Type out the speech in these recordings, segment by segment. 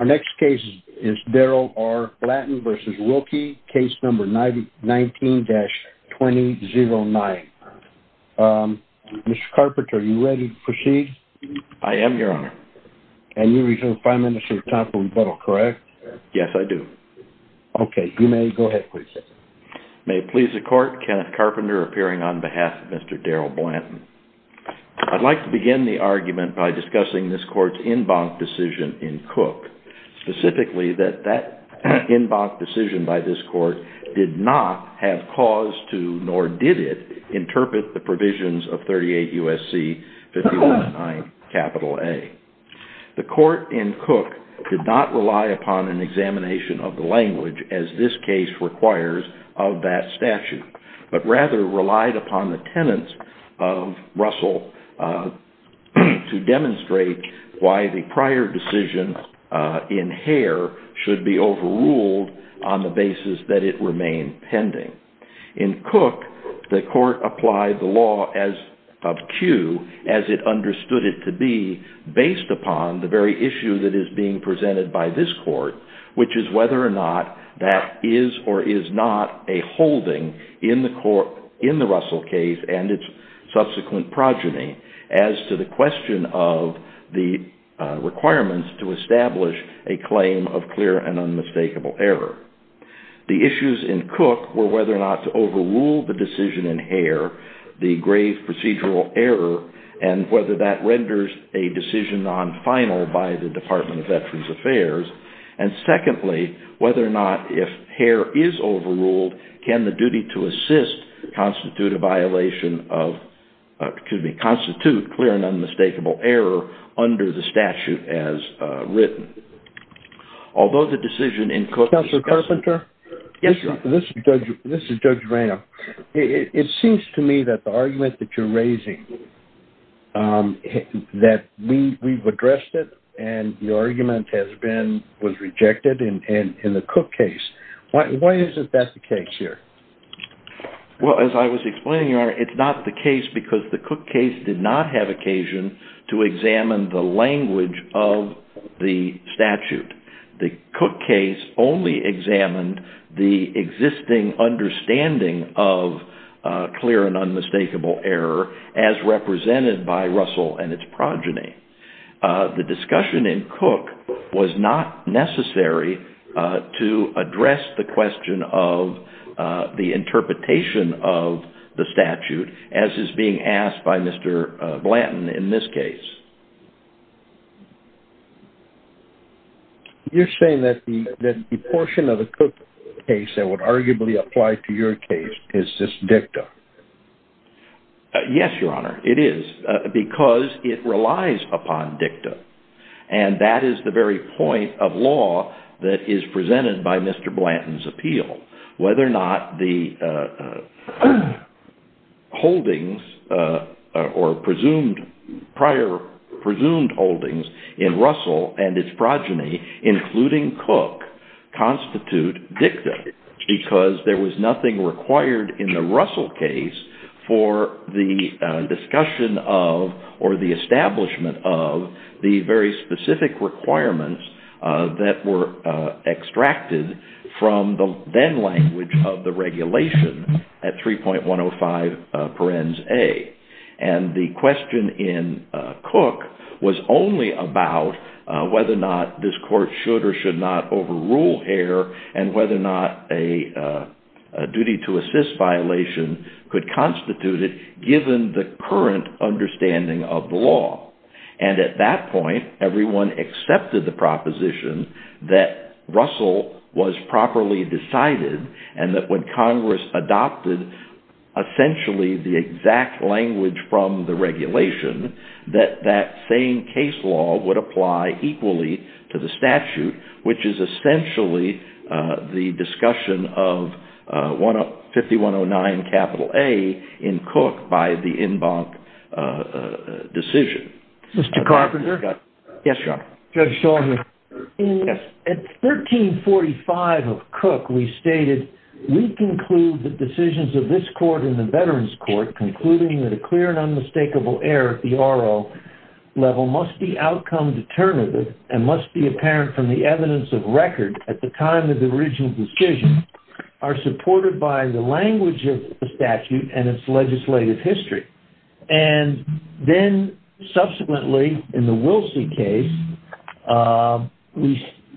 v. Darryl R. Blanton Mr. Carpenter, are you ready to proceed? I am, Your Honor. And you reserve the Prime Minister's time for rebuttal, correct? Yes, I do. Okay, you may go ahead, please. May it please the Court, Kenneth Carpenter appearing on behalf of Mr. Darryl Blanton. I'd like to begin the argument by discussing this Court's en banc decision in Cook, specifically that that en banc decision by this Court did not have cause to, nor did it, interpret the provisions of 38 U.S.C. 5109 A. The Court in Cook did not rely upon an examination of Russell to demonstrate why the prior decision in Hare should be overruled on the basis that it remained pending. In Cook, the Court applied the law of cue as it understood it to be based upon the very issue that is being presented by this Court, which is whether or not that is or is not a holding in the Russell case and its subsequent progeny as to the question of the requirements to establish a claim of clear and unmistakable error. The issues in Cook were whether or not to overrule the decision in Hare, the grave procedural error, and whether that renders a decision non-final by the Department of Veterans Affairs, and secondly, whether or not if Hare is overruled, can the duty to assist constitute a violation of, excuse me, constitute clear and unmistakable error under the statute as written. Although the decision in Cook... Counselor Carpenter? Yes, Your Honor. This is Judge Rayner. It seems to me that the argument that you're raising, that we've addressed it and the argument has been, was rejected in the Cook case. Why is it that's the case here? Well, as I was explaining, Your Honor, it's not the case because the Cook case did not have occasion to examine the language of the statute. The Cook case only examined the existing understanding of clear and unmistakable error as represented by Russell and its progeny. The discussion in Cook was not necessary to address the question of the interpretation of the statute as is being asked by Mr. Blanton in this case. You're saying that the portion of the Cook case that would arguably apply to your case is just dicta? Yes, Your Honor, it is. Because it relies upon dicta. And that is the very point of law that is presented by Mr. Blanton's appeal, whether or not the holdings or presumed, prior presumed holdings in Russell and its progeny, including Cook, constitute dicta, because there was nothing required in the Russell case for the discussion of or the establishment of the very specific requirements that were extracted from the then language of the regulation at 3.105 parens A. And the question in Cook was only about whether or not this court should or should not overrule error and whether or not a duty to assist violation could constitute it given the current understanding of the law. And at that point, everyone accepted the proposition that Russell was properly decided and that when Congress adopted essentially the exact language from the regulation, that that same case law would apply equally to the statute, which is essentially the discussion of 5109 capital A in Cook by the en banc decision. Mr. Carpenter? Yes, Your Honor. Judge Shulman. Yes. At 1345 of Cook, we stated, we conclude that decisions of this court and the Veterans Court concluding that a clear and unmistakable error at the R.O. level must be outcome determinative and must be apparent from the evidence of record at the time of the original decision are supported by the language of the statute and its legislative history. And then subsequently in the Wilsey case,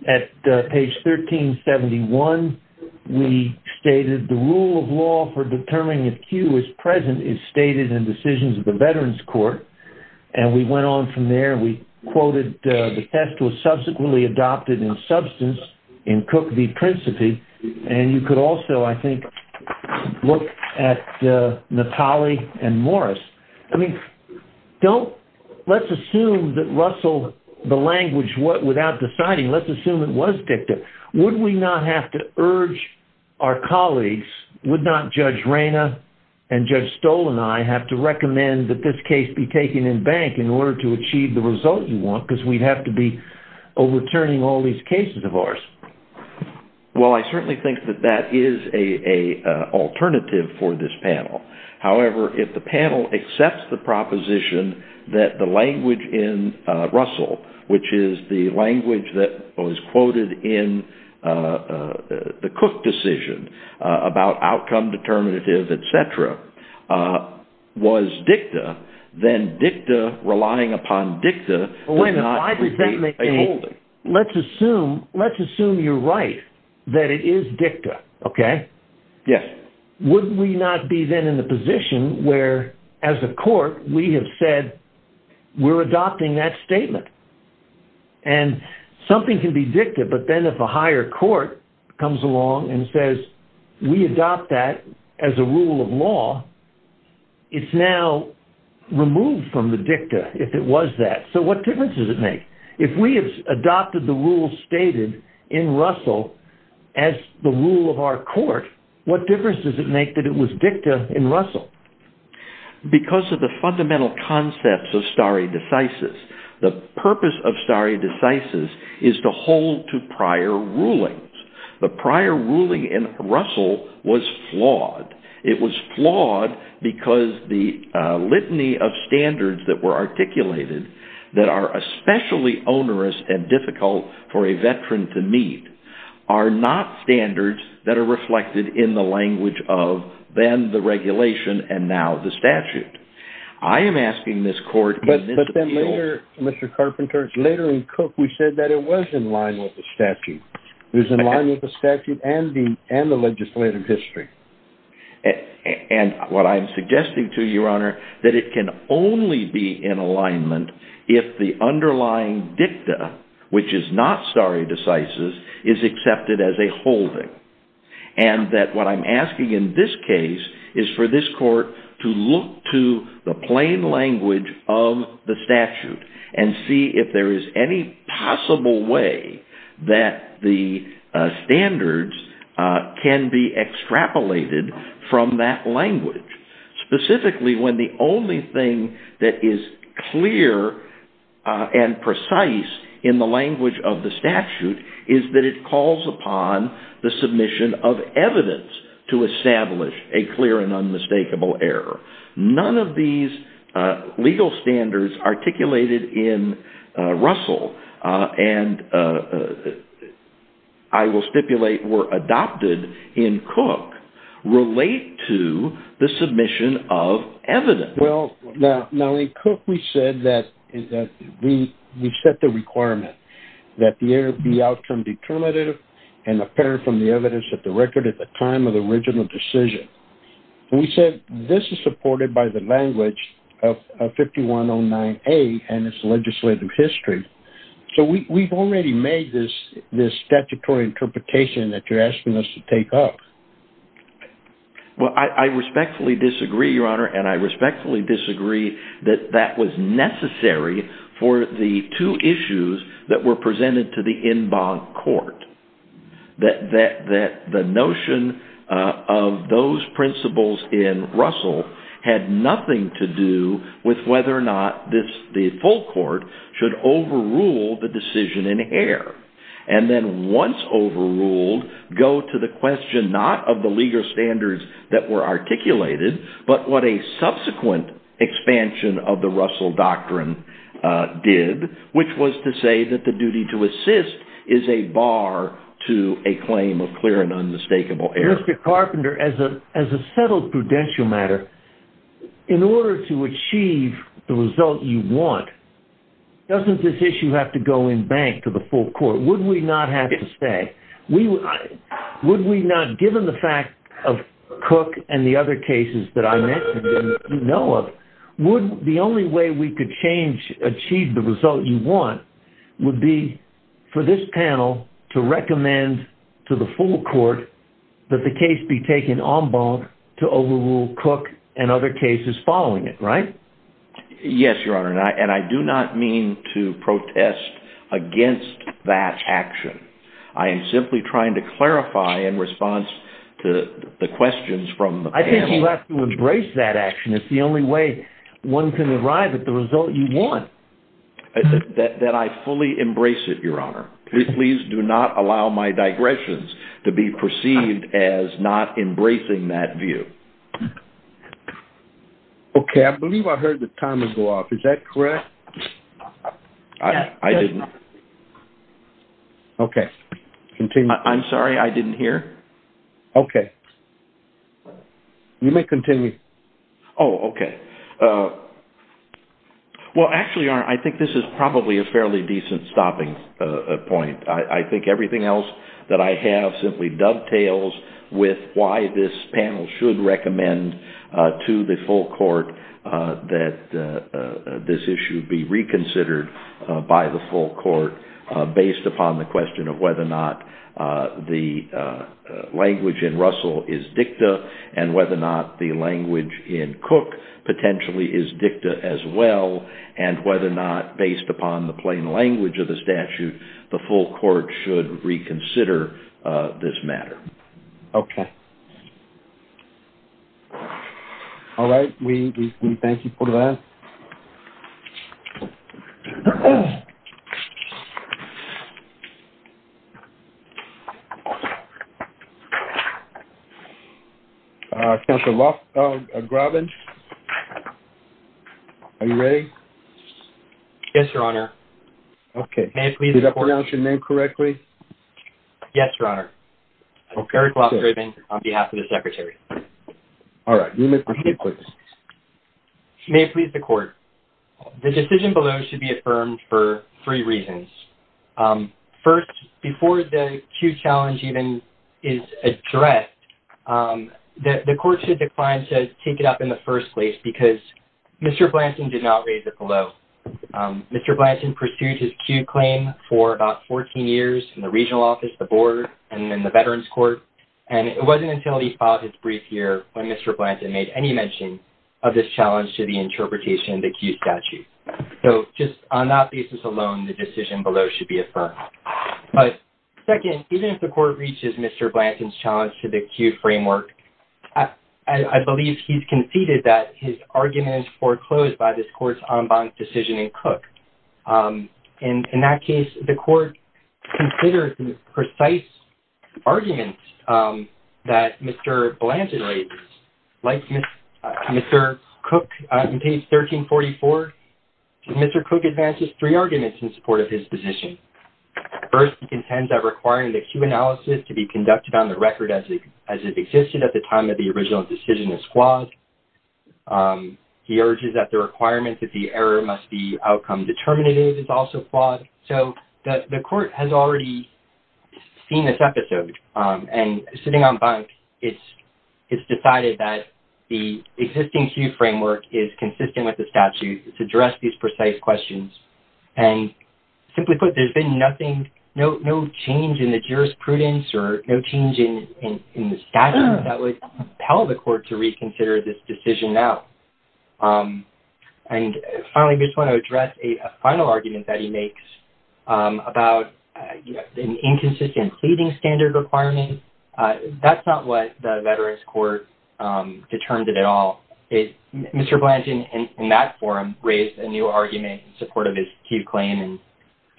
at page 1371, we stated the rule of law for is stated in decisions of the Veterans Court. And we went on from there. We quoted the test was subsequently adopted in substance in Cook v. Principi. And you could also, I think, look at Natale and Morris. I mean, don't, let's assume that Russell, the language, what, without deciding, let's assume it was dicta. Would we not have to urge our colleagues? Would not Judge Reyna and Judge Stoll and I have to recommend that this case be taken in bank in order to achieve the result you want, because we'd have to be overturning all these cases of ours? Well, I certainly think that that is a alternative for this panel. However, if the panel accepts the proposition that the language in Russell, which is the Cook decision about outcome determinative, et cetera, was dicta, then dicta relying upon dicta does not repeat a holding. Let's assume, let's assume you're right, that it is dicta, okay? Yes. Wouldn't we not be then in the position where, as a court, we have said, we're adopting that statement? And something can be dicta, but then if a higher court comes along and says, we adopt that as a rule of law, it's now removed from the dicta if it was that. So what difference does it make? If we have adopted the rules stated in Russell as the rule of our court, what difference does it make that it was dicta in Russell? Because of the fundamental concepts of stare decisis. The purpose of stare decisis is to hold to prior rulings. The prior ruling in Russell was flawed. It was flawed because the litany of standards that were articulated that are especially onerous and difficult for a veteran to meet are not standards that are reflected in the regulation and now the statute. I am asking this court in this appeal... But then later, Mr. Carpenter, later in Cook, we said that it was in line with the statute. It was in line with the statute and the legislative history. And what I'm suggesting to you, Your Honor, that it can only be in alignment if the underlying dicta, which is not stare decisis, is accepted as a holding. And that what I'm asking in this case is for this court to look to the plain language of the statute and see if there is any possible way that the standards can be extrapolated from that language. Specifically, when the only thing that is clear and precise in the language of the statute is that it calls upon the submission of evidence to establish a clear and unmistakable error. None of these legal standards articulated in Russell and I will stipulate were adopted in Cook relate to the submission of evidence. Well, now in Cook, we said that we set the requirement that the error be outcome determinative and apparent from the evidence at the record at the time of the original decision. We said this is supported by the language of 5109A and its legislative history. So we've already made this statutory interpretation that you're asking us to take up. Well, I respectfully disagree, Your Honor, and I respectfully disagree that that was necessary for the two issues that were presented to the en banc court. That the notion of those principles in Russell had nothing to do with whether or not the full court should overrule the decision in Heer. And then once overruled, go to the question not of the legal standards that were articulated, but what a subsequent expansion of the Russell Doctrine did, which was to say that the duty to assist is a bar to a claim of clear and unmistakable error. Mr. Carpenter, as a settled prudential matter, in order to achieve the result you want, doesn't this issue have to go in bank to the full court? Would we not have to say? Would we not, given the fact of Cook and the other cases that I mentioned that you know of, would the only way we could change, achieve the result you want, would be for this panel to recommend to the full court that the case be taken en banc to overrule Cook and other cases following it, right? Yes, Your Honor, and I do not mean to protest against that action. I am simply trying to clarify in response to the questions from the panel. I think you have to embrace that action. It's the only way one can arrive at the result you want. That I fully embrace it, Your Honor. Please do not allow my digressions to be perceived as not embracing that view. Okay, I believe I heard the timer go off. Is that correct? I didn't. Okay, continue. I'm sorry, I didn't hear. Okay. You may continue. Oh, okay. Well, actually, Your Honor, I think this is probably a fairly decent stopping point. I think everything else that I have simply dovetails with why this panel should recommend to the full court that this issue be reconsidered by the full court based upon the question of whether or not the language in Russell is dicta and whether or not the language in Cook potentially is dicta as well and whether or not, based upon the plain language of the question, the full court should reconsider this matter. Okay. All right, we thank you for that. Counselor Grobbins? Are you ready? Yes, Your Honor. Okay. Did I pronounce your name correctly? Yes, Your Honor. Eric Grobbins on behalf of the Secretary. All right. You may proceed, please. May it please the court, the decision below should be affirmed for three reasons. First, before the Q challenge even is addressed, the court should decline to take it up in the first place because Mr. Blanton did not raise it below. Mr. Blanton pursued his Q claim for about 14 years in the regional office, the board, and then the veterans court. And it wasn't until he filed his brief here when Mr. Blanton made any mention of this challenge to the interpretation of the Q statute. So just on that basis alone, the decision below should be affirmed. But second, even if the court reaches Mr. Blanton's challenge to the Q framework, I In that case, the court considered the precise arguments that Mr. Blanton raised. Like Mr. Cook in page 1344, Mr. Cook advances three arguments in support of his position. First, he contends that requiring the Q analysis to be conducted on the record as it existed at the time of the original decision is flawed. He urges that the requirement that the error must be outcome determinative is also flawed. So the court has already seen this episode. And sitting on bunks, it's decided that the existing Q framework is consistent with the statute to address these precise questions. And simply put, there's been nothing, no change in the jurisprudence or no change in the statute that would tell the court to reconsider this decision now. And finally, I just want to address a final argument that he makes about an inconsistent pleading standard requirement. That's not what the Veterans Court determined at all. Mr. Blanton, in that forum, raised a new argument in support of his Q claim.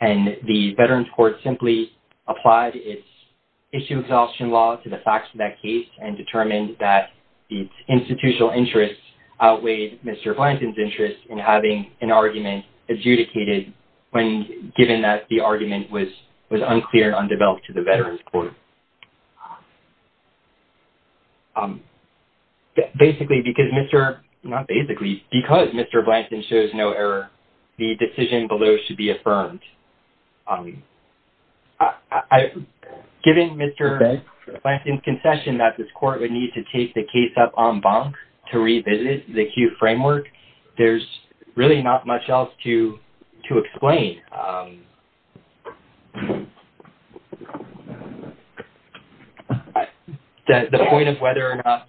And the Veterans Court simply applied its issue exhaustion law to the facts of that case and determined that its institutional interests outweighed Mr. Blanton's interest in having an argument adjudicated when given that the argument was unclear and undeveloped to the Veterans Court. Basically, because Mr. Blanton shows no error, the decision below should be a fair and unconfirmed. Given Mr. Blanton's concession that this court would need to take the case up on bunks to revisit the Q framework, there's really not much else to explain. The point of whether or not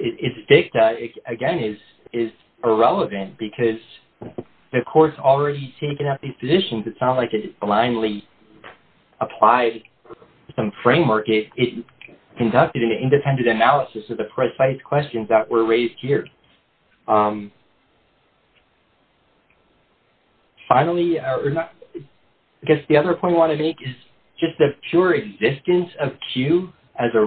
it's dicta, again, is irrelevant because the court's already taken up these positions. It's not like it blindly applied some framework. It conducted an independent analysis of the precise questions that were raised here. Finally, I guess the other point I want to make is just the pure existence of Q as a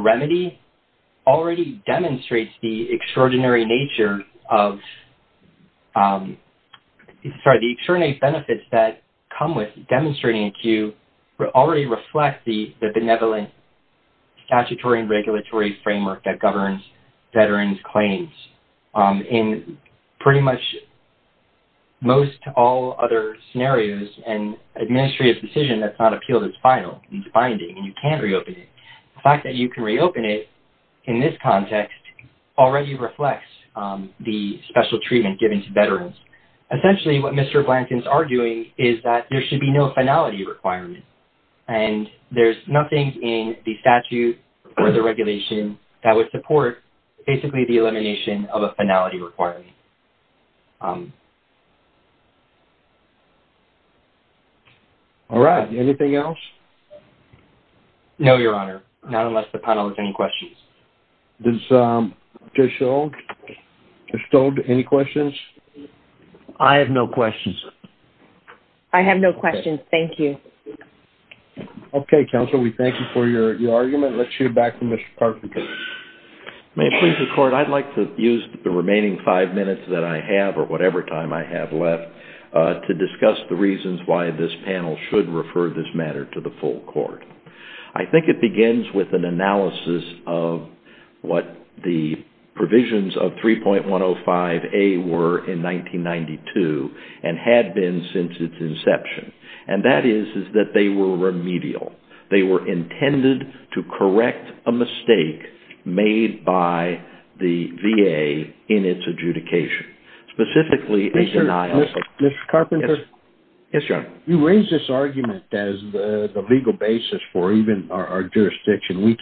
set of methods that come with demonstrating a Q already reflect the benevolent statutory and regulatory framework that governs veterans' claims. In pretty much most all other scenarios, an administrative decision that's not appealed is final. It's binding, and you can't reopen it. The fact that you can reopen it in this context already reflects the special treatment given to veterans. Essentially, what Mr. Blanton's arguing is that there should be no finality requirement. There's nothing in the statute or the regulation that would support basically the elimination of a finality requirement. All right. Anything else? No, Your Honor, not unless the panel has any questions. Judge Stold, any questions? I have no questions. I have no questions. Thank you. Okay, counsel. We thank you for your argument. Let's hear back from Mr. Karpin. May it please the court, I'd like to use the remaining five minutes that I have or whatever time I have left to discuss the reasons why this panel should refer this matter to the full court. I think it begins with an analysis of what the provisions of 3.105A were in 1992 and had been since its inception, and that is that they were remedial. They were intended to correct a mistake made by the VA in its adjudication, specifically a denial. Mr. Karpin? Yes, Your Honor. You raised this argument as the legal basis for even our jurisdiction. We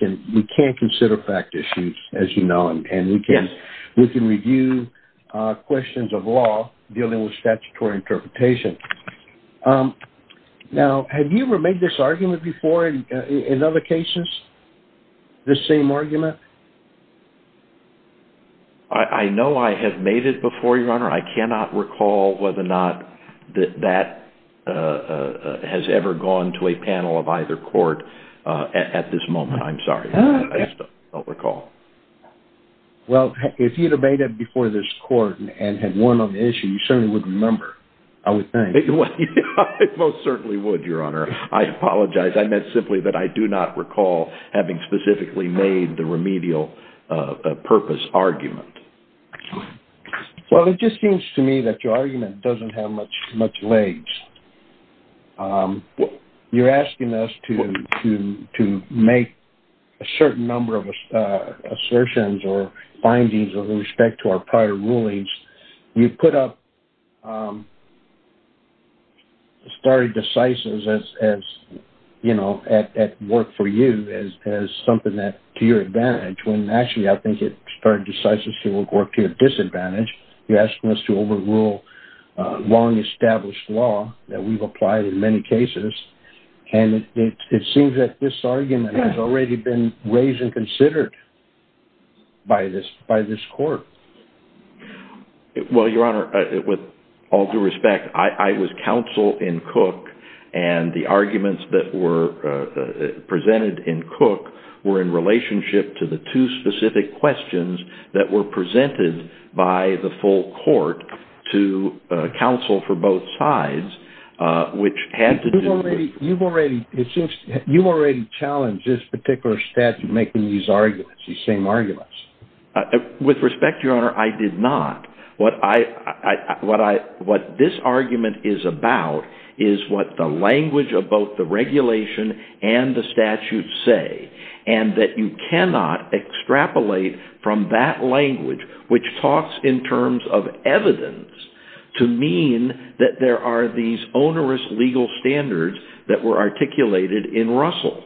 can't consider fact issues, as you know, and we can review questions of law dealing with statutory interpretation. Now, have you ever made this argument before in other cases, this same argument? I know I have made it before, Your Honor. I cannot recall whether or not that has ever gone to a panel of either court at this moment. I'm sorry. I just don't recall. Well, if you had made it before this court and had won on the issue, you certainly would remember. I would think. I most certainly would, Your Honor. I apologize. I meant simply that I do not recall having specifically made the remedial purpose argument. Well, it just seems to me that your argument doesn't have much legs. You're asking us to make a certain number of assertions or findings with respect to our prior rulings. You put up stare decisis as, you know, at work for you as something to your advantage between. Actually, I think it stare decisis to your disadvantage. You're asking us to overrule long-established law that we've applied in many cases, and it seems that this argument has already been raised and considered by this court. Well, Your Honor, with all due respect, I was counsel in Cook, and the arguments that were presented in Cook were in relationship to the two specific questions that were presented by the full court to counsel for both sides, which had to do with... You've already challenged this particular statute making these arguments, these same arguments. With respect, Your Honor, I did not. What this argument is about is what the language of both the regulation and the statute say, and that you cannot extrapolate from that language, which talks in terms of evidence, to mean that there are these onerous legal standards that were articulated in Russell.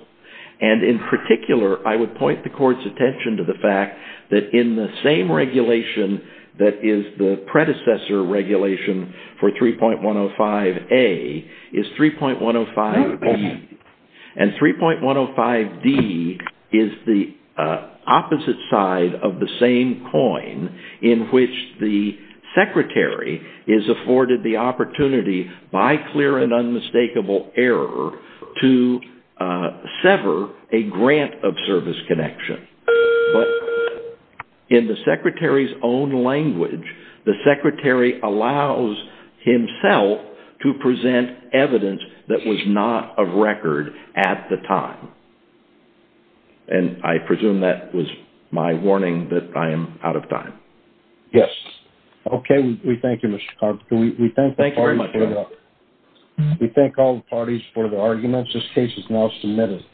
And in particular, I would point the court's attention to the fact that in the same regulation that is the predecessor regulation for 3.105A is 3.105B. And 3.105D is the opposite side of the same coin in which the secretary is afforded the opportunity by clear and unmistakable error to sever a grant of service connection. But in the secretary's own language, the secretary allows himself to present evidence that was not of record at the time. And I presume that was my warning that I am out of time. Yes. Okay. We thank you, Mr. Carpenter. We thank all the parties for their arguments. This case is now submitted.